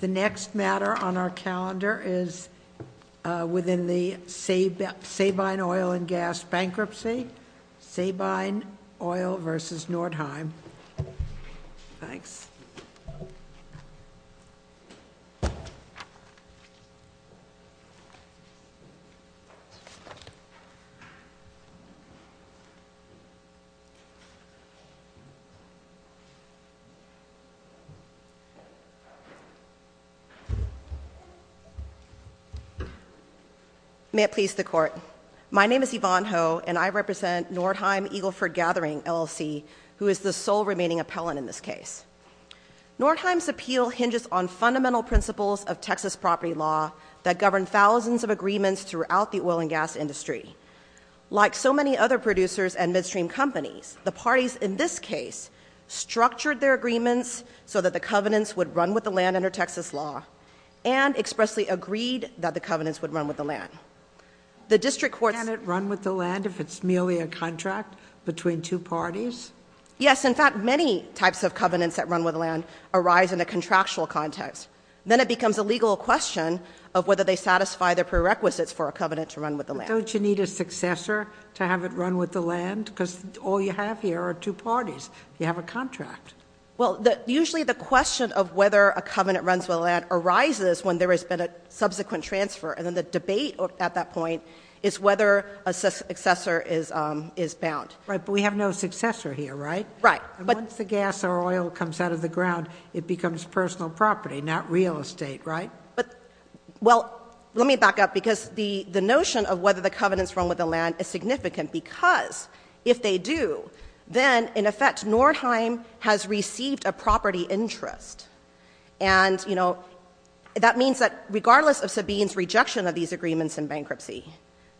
The next matter on our calendar is within the Sabine Oil & Gas Bankruptcy. Sabine Oil versus Nordheim. Thanks. May it please the Court. My name is Yvonne Ho, and I represent Nordheim Eagleford Gathering LLC, who is the sole remaining appellant in this case. Nordheim's appeal hinges on fundamental principles of Texas property law that govern thousands of agreements throughout the oil and gas industry. Like so many other producers and midstream companies, the parties in this case structured their agreements so that the covenants would run with the land under Texas law, and expressly agreed that the covenants would run with the land. The district courts... Can't it run with the land if it's merely a contract between two parties? Yes. In fact, many types of covenants that run with the land arise in a contractual context. Then it becomes a legal question of whether they satisfy the prerequisites for a covenant to run with the land. Don't you need a successor to have it run with the land, because all you have here are two parties. You have a contract. Well, usually the question of whether a covenant runs with the land arises when there has been a subsequent transfer, and then the debate at that point is whether a successor is bound. Right. But we have no successor here, right? Right. Once the gas or oil comes out of the ground, it becomes personal property, not real estate, right? Well, let me back up, because the notion of whether the covenants run with the land is that Nordheim has received a property interest, and, you know, that means that regardless of Sabine's rejection of these agreements in bankruptcy,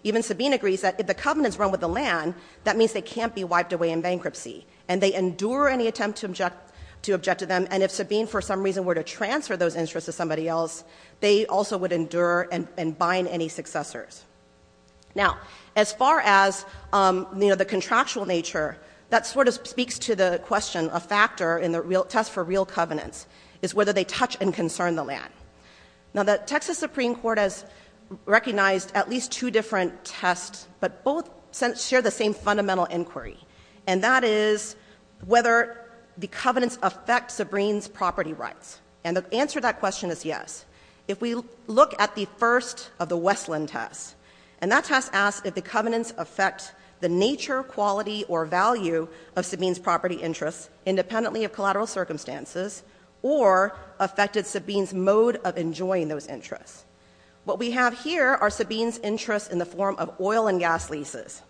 even Sabine agrees that if the covenants run with the land, that means they can't be wiped away in bankruptcy, and they endure any attempt to object to them, and if Sabine, for some reason, were to transfer those interests to somebody else, they also would endure and bind any successors. Now, as far as, you know, the contractual nature, that sort of speaks to the question of factor in the test for real covenants, is whether they touch and concern the land. Now, the Texas Supreme Court has recognized at least two different tests, but both share the same fundamental inquiry, and that is whether the covenants affect Sabine's property rights, and the answer to that question is yes. If we look at the first of the Westland tests, and that test asks if the covenants affect the nature, quality, or value of Sabine's property interests, independently of collateral circumstances, or affected Sabine's mode of enjoying those interests. What we have here are Sabine's interests in the form of oil and gas leases,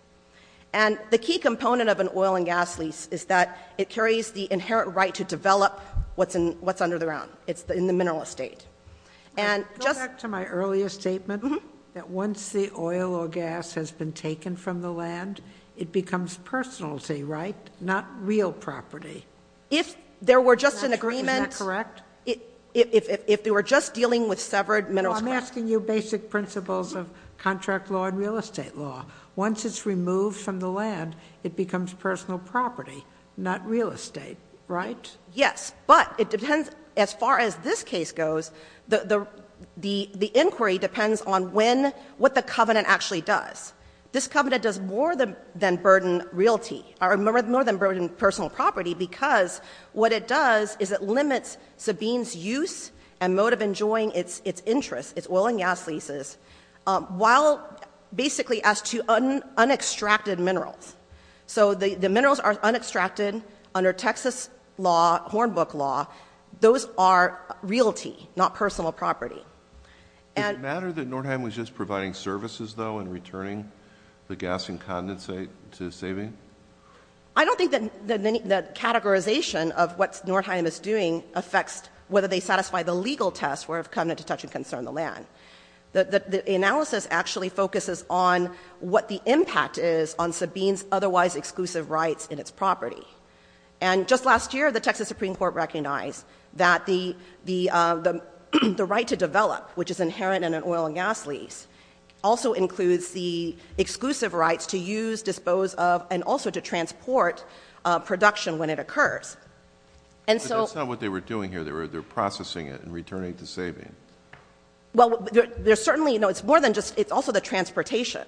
and the key component of an oil and gas lease is that it carries the inherent right to develop what's under the ground. It's in the mineral estate. And just— Go back to my earlier statement, that once the oil or gas has been taken from the land, it becomes personality, right? Not real property. If there were just an agreement— Is that correct? If they were just dealing with severed minerals— No, I'm asking you basic principles of contract law and real estate law. Once it's removed from the land, it becomes personal property, not real estate, right? Yes, but it depends, as far as this case goes, the inquiry depends on what the covenant actually does. This covenant does more than burden realty, or more than burden personal property, because what it does is it limits Sabine's use and mode of enjoying its interests, its oil and gas leases, while basically as to unextracted minerals. So the minerals are unextracted under Texas law, Hornbook law, those are realty, not personal property. Does it matter that Nordheim was just providing services, though, and returning the gas and condensate to Sabine? I don't think that categorization of what Nordheim is doing affects whether they satisfy the legal test where the covenant to touch and conserve the land. The analysis actually focuses on what the impact is on Sabine's otherwise exclusive rights in its property. And just last year, the Texas Supreme Court recognized that the right to develop, which is inherent in an oil and gas lease, also includes the exclusive rights to use, dispose of, and also to transport production when it occurs. And so— But that's not what they were doing here. They were processing it and returning it to Sabine. Well, there's certainly—no, it's more than just—it's also the transportation.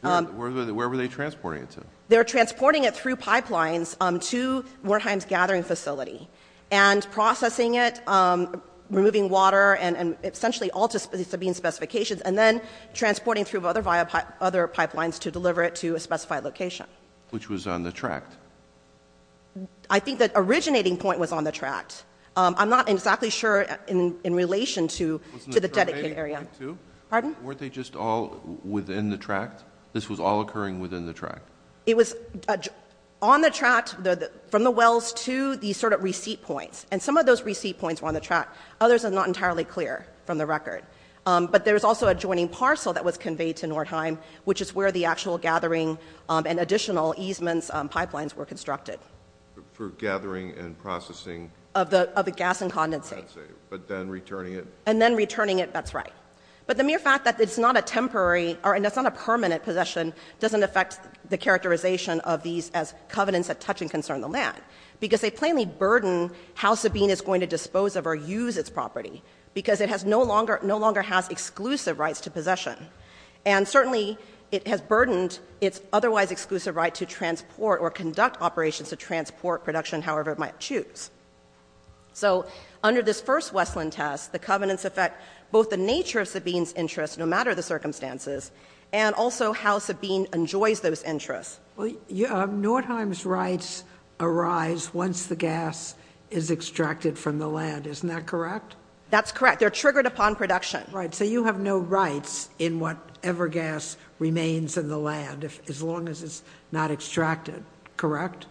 Where were they transporting it to? They're transporting it through pipelines to Nordheim's gathering facility and processing it, removing water, and essentially all to Sabine's specifications, and then transporting through other pipelines to deliver it to a specified location. Which was on the tract. I think the originating point was on the tract. I'm not exactly sure in relation to the dedicated area. Wasn't it on the tract, too? Pardon? Weren't they just all within the tract? This was all occurring within the tract? It was on the tract, from the wells to these sort of receipt points. And some of those receipt points were on the tract. Others are not entirely clear from the record. But there was also a joining parcel that was conveyed to Nordheim, which is where the actual gathering and additional easements pipelines were constructed. For gathering and processing? Of the gas and condensate. I see. But then returning it? And then returning it. That's right. But the mere fact that it's not a temporary—or that it's not a permanent possession doesn't affect the characterization of these as covenants that touch and concern the land. Because they plainly burden how Sabine is going to dispose of or use its property. Because it no longer has exclusive rights to possession. And certainly it has burdened its otherwise exclusive right to transport or conduct operations or transport production, however it might choose. So under this first Westland test, the covenants affect both the nature of Sabine's interests, no matter the circumstances, and also how Sabine enjoys those interests. Well, Nordheim's rights arise once the gas is extracted from the land. Isn't that correct? That's correct. They're triggered upon production. Right. So you have no rights in whatever gas remains in the land, as long as it's not extracted. Correct?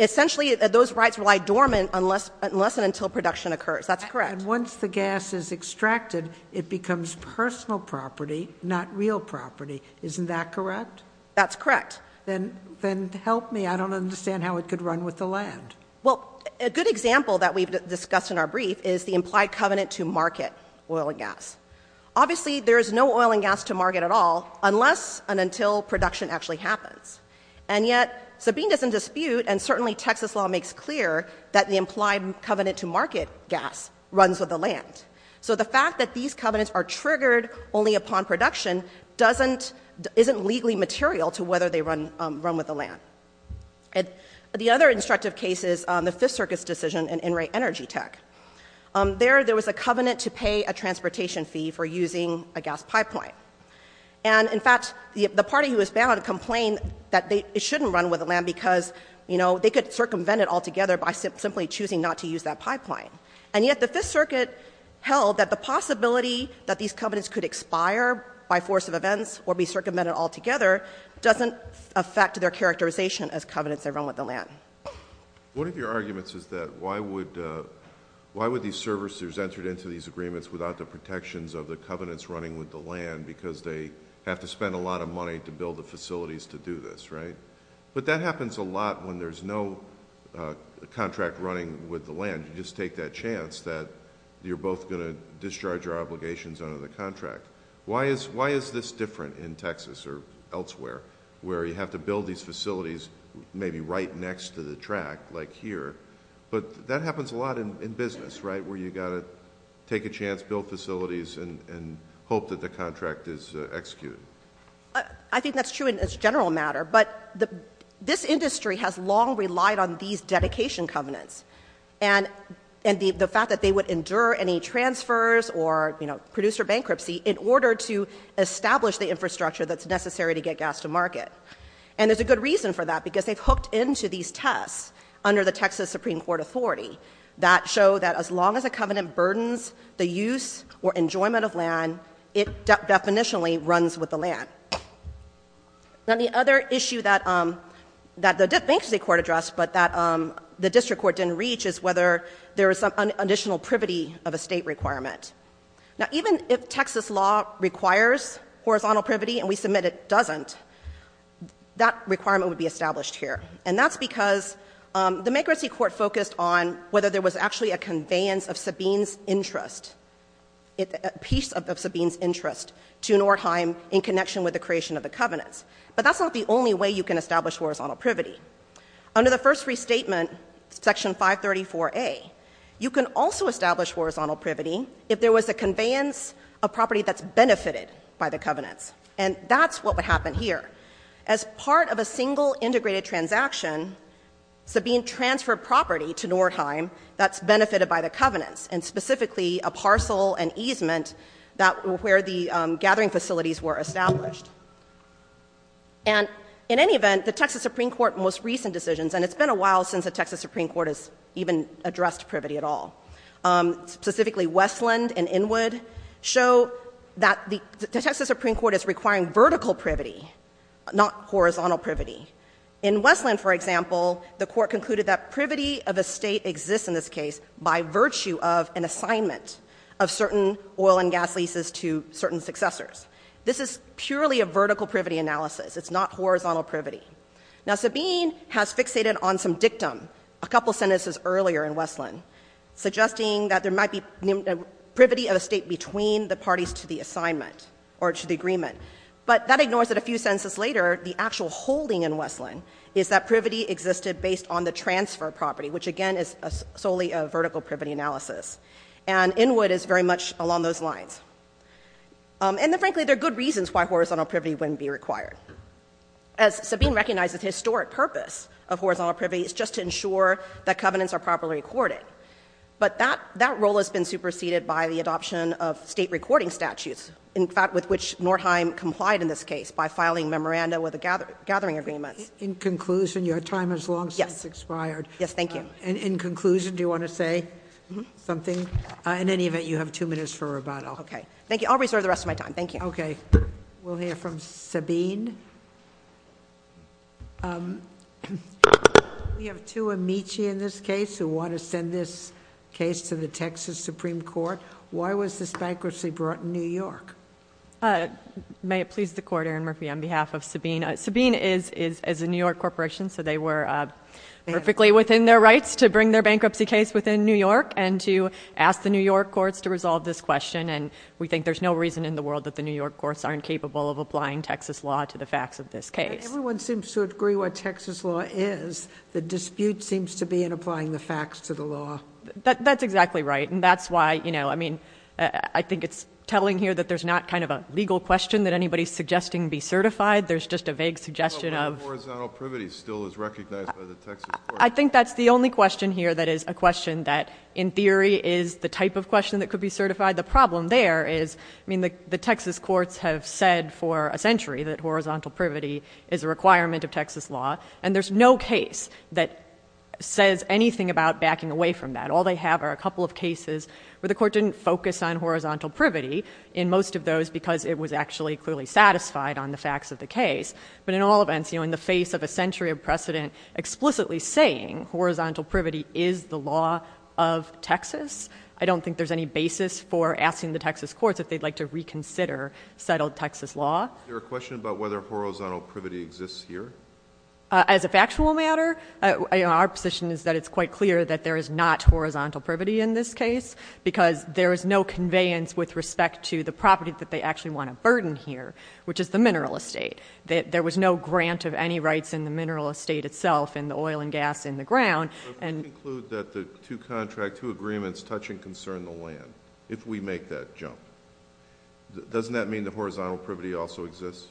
Essentially, those rights lie dormant unless and until production occurs. That's correct. And once the gas is extracted, it becomes personal property, not real property. Isn't that correct? That's correct. Then help me. I don't understand how it could run with the land. Well, a good example that we've discussed in our brief is the implied covenant to market oil and gas. Obviously, there is no oil and gas to market at all, unless and until production actually happens. And yet, Sabine doesn't dispute, and certainly Texas law makes clear, that the implied covenant to market gas runs with the land. So the fact that these covenants are triggered only upon production isn't legally material to whether they run with the land. The other instructive case is the Fifth Circuit's decision in Enright Energy Tech. There, there was a covenant to pay a transportation fee for using a gas pipeline. And, in fact, the party who was banned complained that it shouldn't run with the land because, you know, they could circumvent it altogether by simply choosing not to use that pipeline. And yet the Fifth Circuit held that the possibility that these covenants could expire by force of events or be circumvented altogether doesn't affect their characterization as covenants that run with the land. One of your arguments is that why would, why would these servicers entered into these agreements without the protections of the covenants running with the land because they have to spend a lot of money to build the facilities to do this, right? But that happens a lot when there's no contract running with the land. You just take that chance that you're both going to discharge your obligations under the contract. Why is, why is this different in Texas or elsewhere, where you have to build these facilities maybe right next to the track, like here, but that happens a lot in business, right, where you got to take a chance, build facilities, and hope that the contract is executed? I think that's true in its general matter, but this industry has long relied on these dedication covenants and the fact that they would endure any transfers or, you know, producer bankruptcy in order to establish the infrastructure that's necessary to get gas to market. And there's a good reason for that because they've hooked into these tests under the covenant burdens, the use or enjoyment of land, it definitionally runs with the land. Now, the other issue that, um, that the bankruptcy court addressed, but that, um, the district court didn't reach is whether there was some additional privity of a state requirement. Now, even if Texas law requires horizontal privity and we submit it doesn't, that requirement would be established here. And that's because, um, the bankruptcy court focused on whether there was actually a conveyance of Sabine's interest, a piece of Sabine's interest to Nordheim in connection with the creation of the covenants. But that's not the only way you can establish horizontal privity. Under the first restatement, section 534A, you can also establish horizontal privity if there was a conveyance of property that's benefited by the covenants. And that's what would happen here. As part of a single integrated transaction, Sabine transferred property to Nordheim that's benefited by the covenants and specifically a parcel and easement that, where the, um, gathering facilities were established. And in any event, the Texas Supreme Court most recent decisions, and it's been a while since the Texas Supreme Court has even addressed privity at all, um, specifically Westland and Inwood show that the Texas Supreme Court is requiring vertical privity, not horizontal privity. In Westland, for example, the court concluded that privity of a state exists in this case by virtue of an assignment of certain oil and gas leases to certain successors. This is purely a vertical privity analysis. It's not horizontal privity. Now, Sabine has fixated on some dictum a couple sentences earlier in Westland, suggesting that there might be privity of a state between the parties to the assignment or to the agreement. But that ignores that a few sentences later, the actual holding in Westland is that privity existed based on the transfer property, which again is solely a vertical privity analysis. And Inwood is very much along those lines. Um, and then frankly, there are good reasons why horizontal privity wouldn't be required. As Sabine recognizes historic purpose of horizontal privity is just to ensure that covenants are properly recorded. But that, that role has been superseded by the adoption of state recording statutes, in fact, with which Nordheim complied in this case by filing memoranda with the gathering agreements. In conclusion, your time has long since expired. Yes. Yes. Thank you. And in conclusion, do you want to say something? Uh, in any event, you have two minutes for rebuttal. Okay. Thank you. I'll reserve the rest of my time. Thank you. Okay. We'll hear from Sabine. Um, we have two Amici in this case who want to send this case to the Texas Supreme Court. Why was this bankruptcy brought in New York? Uh, may it please the court, Erin Murphy, on behalf of Sabine. Sabine is, is, is a New York corporation, so they were, uh, perfectly within their rights to bring their bankruptcy case within New York and to ask the New York courts to resolve this question. And we think there's no reason in the world that the New York courts aren't capable of applying Texas law to the facts of this case. Everyone seems to agree what Texas law is. The dispute seems to be in applying the facts to the law. That's exactly right. And that's why, you know, I mean, I think it's telling here that there's not kind of a legal question that anybody's suggesting be certified. There's just a vague suggestion of... Well, the horizontal privity still is recognized by the Texas courts. I think that's the only question here that is a question that, in theory, is the type of question that could be certified. The problem there is, I mean, the, the Texas courts have said for a century that horizontal privity is a requirement of Texas law, and there's no case that says anything about backing away from that. All they have are a couple of cases where the court didn't focus on horizontal privity in most of those because it was actually clearly satisfied on the facts of the case. But in all events, you know, in the face of a century of precedent explicitly saying horizontal privity is the law of Texas, I don't think there's any basis for asking the Texas courts if they'd like to reconsider settled Texas law. Is there a question about whether horizontal privity exists here? As a factual matter, our position is that it's quite clear that there is not horizontal conveyance with respect to the property that they actually want to burden here, which is the mineral estate. There was no grant of any rights in the mineral estate itself, in the oil and gas in the ground, and So if we conclude that the two contract, two agreements touch and concern the land, if we make that jump, doesn't that mean that horizontal privity also exists?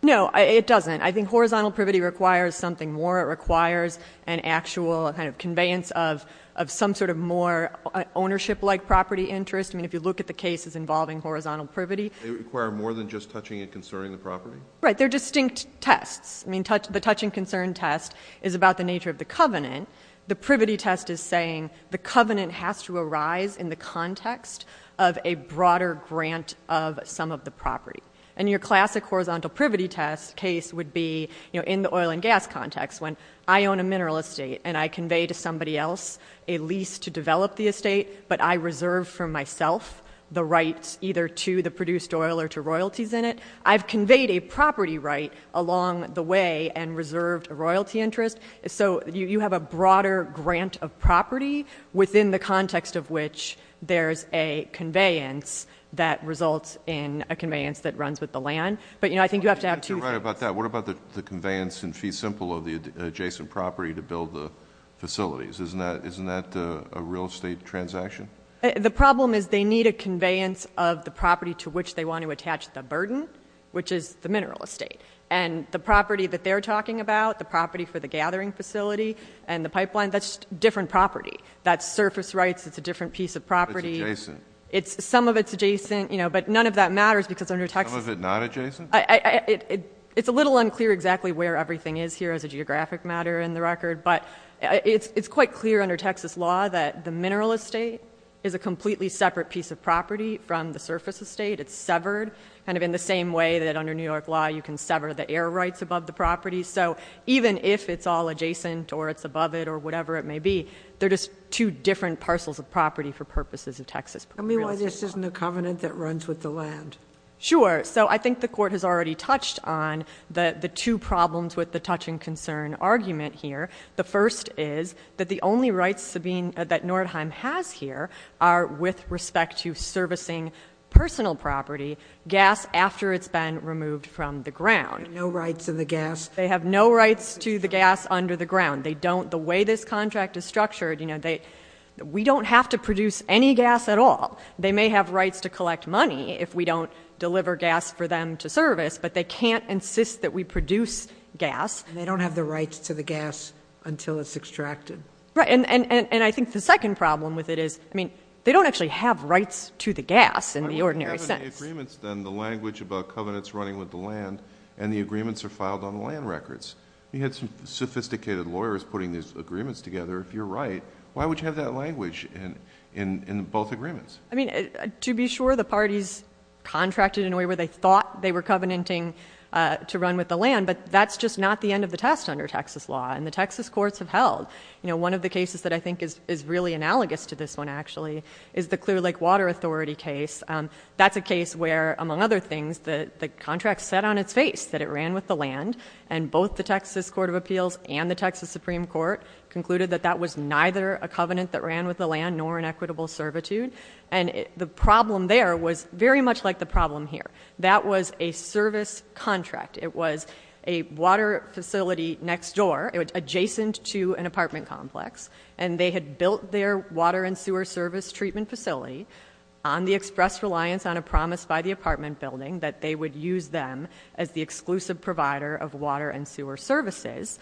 No, it doesn't. I think horizontal privity requires something more. It requires an actual kind of conveyance of, of some sort of more ownership-like property interest. I mean, if you look at the cases involving horizontal privity- They require more than just touching and concerning the property? Right. They're distinct tests. I mean, the touch and concern test is about the nature of the covenant. The privity test is saying the covenant has to arise in the context of a broader grant of some of the property. And your classic horizontal privity test case would be, you know, in the oil and gas context when I own a mineral estate and I convey to somebody else a lease to develop the estate, but I reserve for myself the rights either to the produced oil or to royalties in it. I've conveyed a property right along the way and reserved a royalty interest. So you, you have a broader grant of property within the context of which there's a conveyance that results in a conveyance that runs with the land. But you know, I think you have to have two- I think you're right about that. What about the, the conveyance in fee simple of the adjacent property to build the facilities? Isn't that, isn't that a real estate transaction? The problem is they need a conveyance of the property to which they want to attach the burden, which is the mineral estate. And the property that they're talking about, the property for the gathering facility and the pipeline, that's different property. That's surface rights. It's a different piece of property. It's adjacent. It's, some of it's adjacent, you know, but none of that matters because under Texas- Some of it not adjacent? I, I, it, it, it's a little unclear exactly where everything is here as a geographic matter in the record, but it's, it's quite clear under Texas law that the mineral estate is a completely separate piece of property from the surface estate. It's severed, kind of in the same way that under New York law you can sever the air rights above the property. So even if it's all adjacent or it's above it or whatever it may be, they're just two different parcels of property for purposes of Texas- Tell me why this isn't a covenant that runs with the land. Sure. So I think the court has already touched on the, the two problems with the touch and concern argument here. The first is that the only rights Sabine, that Nordheim has here are with respect to servicing personal property, gas after it's been removed from the ground. They have no rights to the gas? They have no rights to the gas under the ground. They don't, the way this contract is structured, you know, they, we don't have to produce any gas at all. They may have rights to collect money if we don't deliver gas for them to service, but they can't insist that we produce gas. And they don't have the rights to the gas until it's extracted. Right. And, and, and I think the second problem with it is, I mean, they don't actually have rights to the gas in the ordinary sense. But what about the agreements then, the language about covenants running with the land and the agreements are filed on the land records? You had some sophisticated lawyers putting these agreements together. If you're right, why would you have that language in, in, in both agreements? I mean, to be sure the parties contracted in a way where they thought they were covenanting to run with the land, but that's just not the end of the test under Texas law. And the Texas courts have held, you know, one of the cases that I think is, is really analogous to this one actually, is the Clear Lake Water Authority case. That's a case where, among other things, the, the contract said on its face that it ran with the land. And both the Texas Court of Appeals and the Texas Supreme Court concluded that that was neither a covenant that ran with the land, nor an equitable servitude. And the problem there was very much like the problem here. That was a service contract. It was a water facility next door, adjacent to an apartment complex. And they had built their water and sewer service treatment facility on the express reliance on a promise by the apartment building, that they would use them as the exclusive provider of water and sewer services.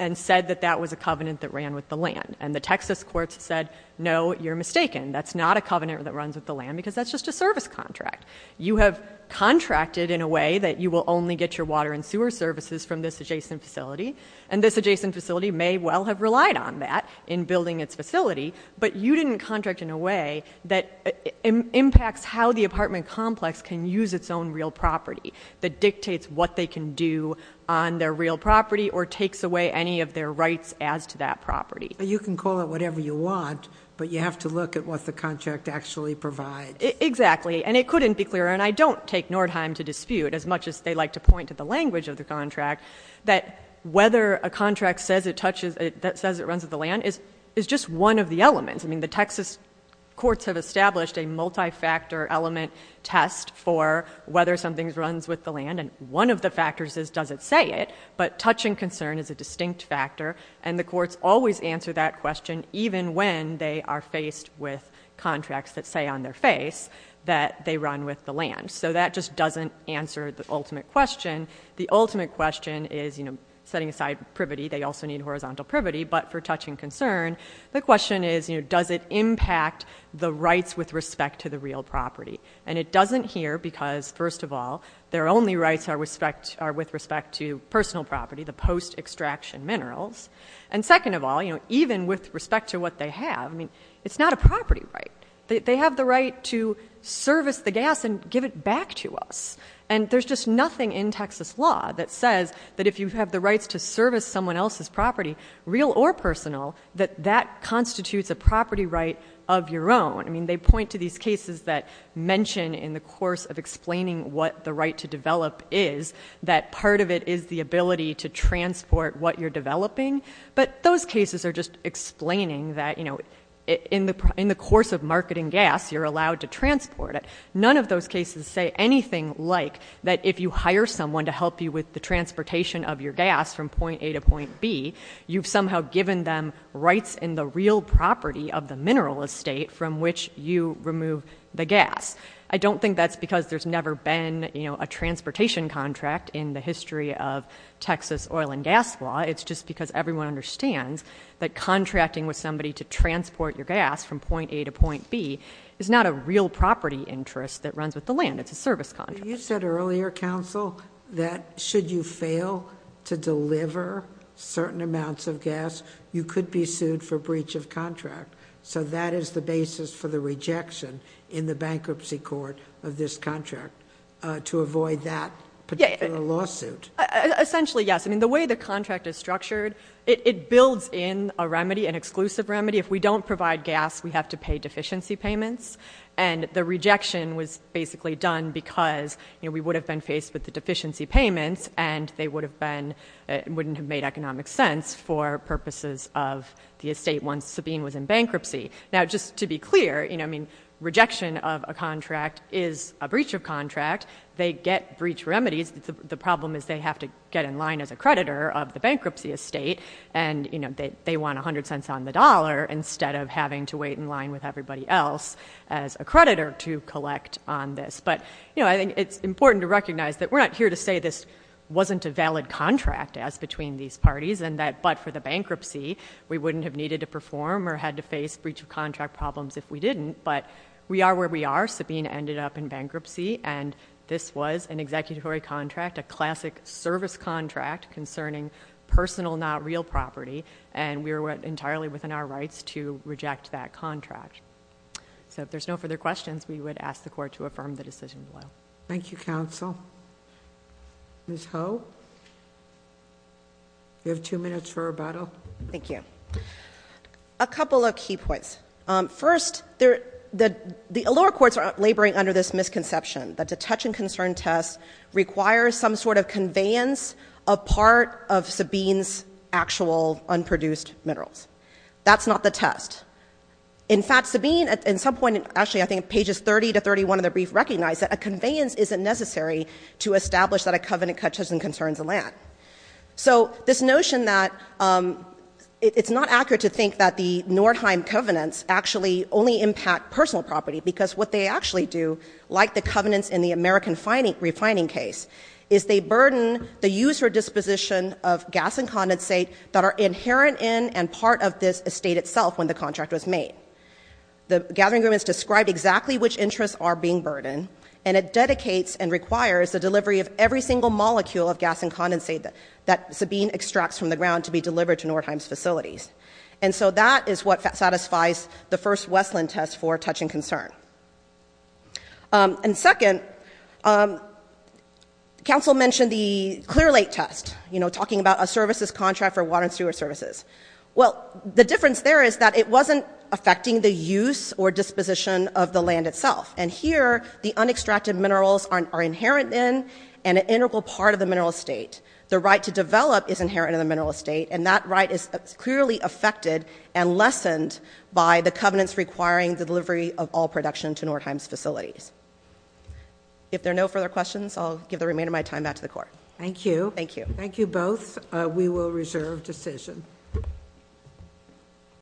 And said that that was a covenant that ran with the land. And the Texas courts said, no, you're mistaken. That's not a covenant that runs with the land because that's just a service contract. You have contracted in a way that you will only get your water and sewer services from this adjacent facility. And this adjacent facility may well have relied on that in building its facility. But you didn't contract in a way that impacts how the apartment complex can use its own real property. That dictates what they can do on their real property or takes away any of their rights as to that property. But you can call it whatever you want, but you have to look at what the contract actually provides. Exactly, and it couldn't be clearer, and I don't take Nordheim to dispute as much as they like to point to the language of the contract. That whether a contract says it runs with the land is just one of the elements. I mean, the Texas courts have established a multi-factor element test for whether something runs with the land, and one of the factors is does it say it, but touch and concern is a distinct factor. And the courts always answer that question even when they are faced with contracts that say on their face that they run with the land. So that just doesn't answer the ultimate question. The ultimate question is, setting aside privity, they also need horizontal privity, but for touch and concern. The question is, does it impact the rights with respect to the real property? And it doesn't here because, first of all, their only rights are with respect to personal property, the post-extraction minerals, and second of all, even with respect to what they have, I mean, it's not a property right. They have the right to service the gas and give it back to us. And there's just nothing in Texas law that says that if you have the rights to service someone else's property, real or personal, that that constitutes a property right of your own. I mean, they point to these cases that mention in the course of explaining what the right to develop is, that part of it is the ability to transport what you're developing. But those cases are just explaining that in the course of marketing gas, you're allowed to transport it. None of those cases say anything like that if you hire someone to help you with the transportation of your gas from point A to point B, you've somehow given them rights in the real property of the mineral estate from which you remove the gas. I don't think that's because there's never been a transportation contract in the history of Texas oil and gas law. It's just because everyone understands that contracting with somebody to transport your gas from point A to point B is not a real property interest that runs with the land, it's a service contract. You said earlier, counsel, that should you fail to deliver certain amounts of gas, you could be sued for breach of contract, so that is the basis for the rejection in the bankruptcy court of this contract to avoid that particular lawsuit. Essentially, yes. I mean, the way the contract is structured, it builds in a remedy, an exclusive remedy. If we don't provide gas, we have to pay deficiency payments. And the rejection was basically done because we would have been faced with the deficiency payments and they wouldn't have made economic sense for purposes of the estate once Sabine was in bankruptcy. Now, just to be clear, rejection of a contract is a breach of contract. They get breach remedies, the problem is they have to get in line as a creditor of the bankruptcy estate. And they want 100 cents on the dollar instead of having to wait in line with everybody else as a creditor to collect on this. But I think it's important to recognize that we're not here to say this wasn't a valid contract as between these parties. And that but for the bankruptcy, we wouldn't have needed to perform or had to face breach of contract problems if we didn't. But we are where we are. Sabine ended up in bankruptcy and this was an executory contract, a classic service contract concerning personal, not real property. And we are entirely within our rights to reject that contract. So if there's no further questions, we would ask the court to affirm the decision below. Thank you, counsel. Ms. Ho, you have two minutes for rebuttal. Thank you. A couple of key points. First, the lower courts are laboring under this misconception that the touch and concern test requires some sort of conveyance of part of Sabine's actual unproduced minerals. That's not the test. In fact, Sabine at some point, actually I think pages 30 to 31 of the brief recognized that a conveyance isn't necessary to establish that a covenant touches and concerns the land. So this notion that it's not accurate to think that the Nordheim covenants actually only impact personal property. Because what they actually do, like the covenants in the American refining case, is they burden the user disposition of gas and condensate that are inherent in and are part of this estate itself when the contract was made. The gathering room has described exactly which interests are being burdened. And it dedicates and requires the delivery of every single molecule of gas and condensate that Sabine extracts from the ground to be delivered to Nordheim's facilities. And so that is what satisfies the first Westland test for touch and concern. And second, counsel mentioned the clear late test, talking about a services contract for water and sewer services. Well, the difference there is that it wasn't affecting the use or disposition of the land itself. And here, the unextracted minerals are inherent in and an integral part of the mineral estate. The right to develop is inherent in the mineral estate, and that right is clearly affected and lessened by the covenants requiring the delivery of all production to Nordheim's facilities. If there are no further questions, I'll give the remainder of my time back to the court. Thank you. Thank you. Thank you both. We will reserve decision.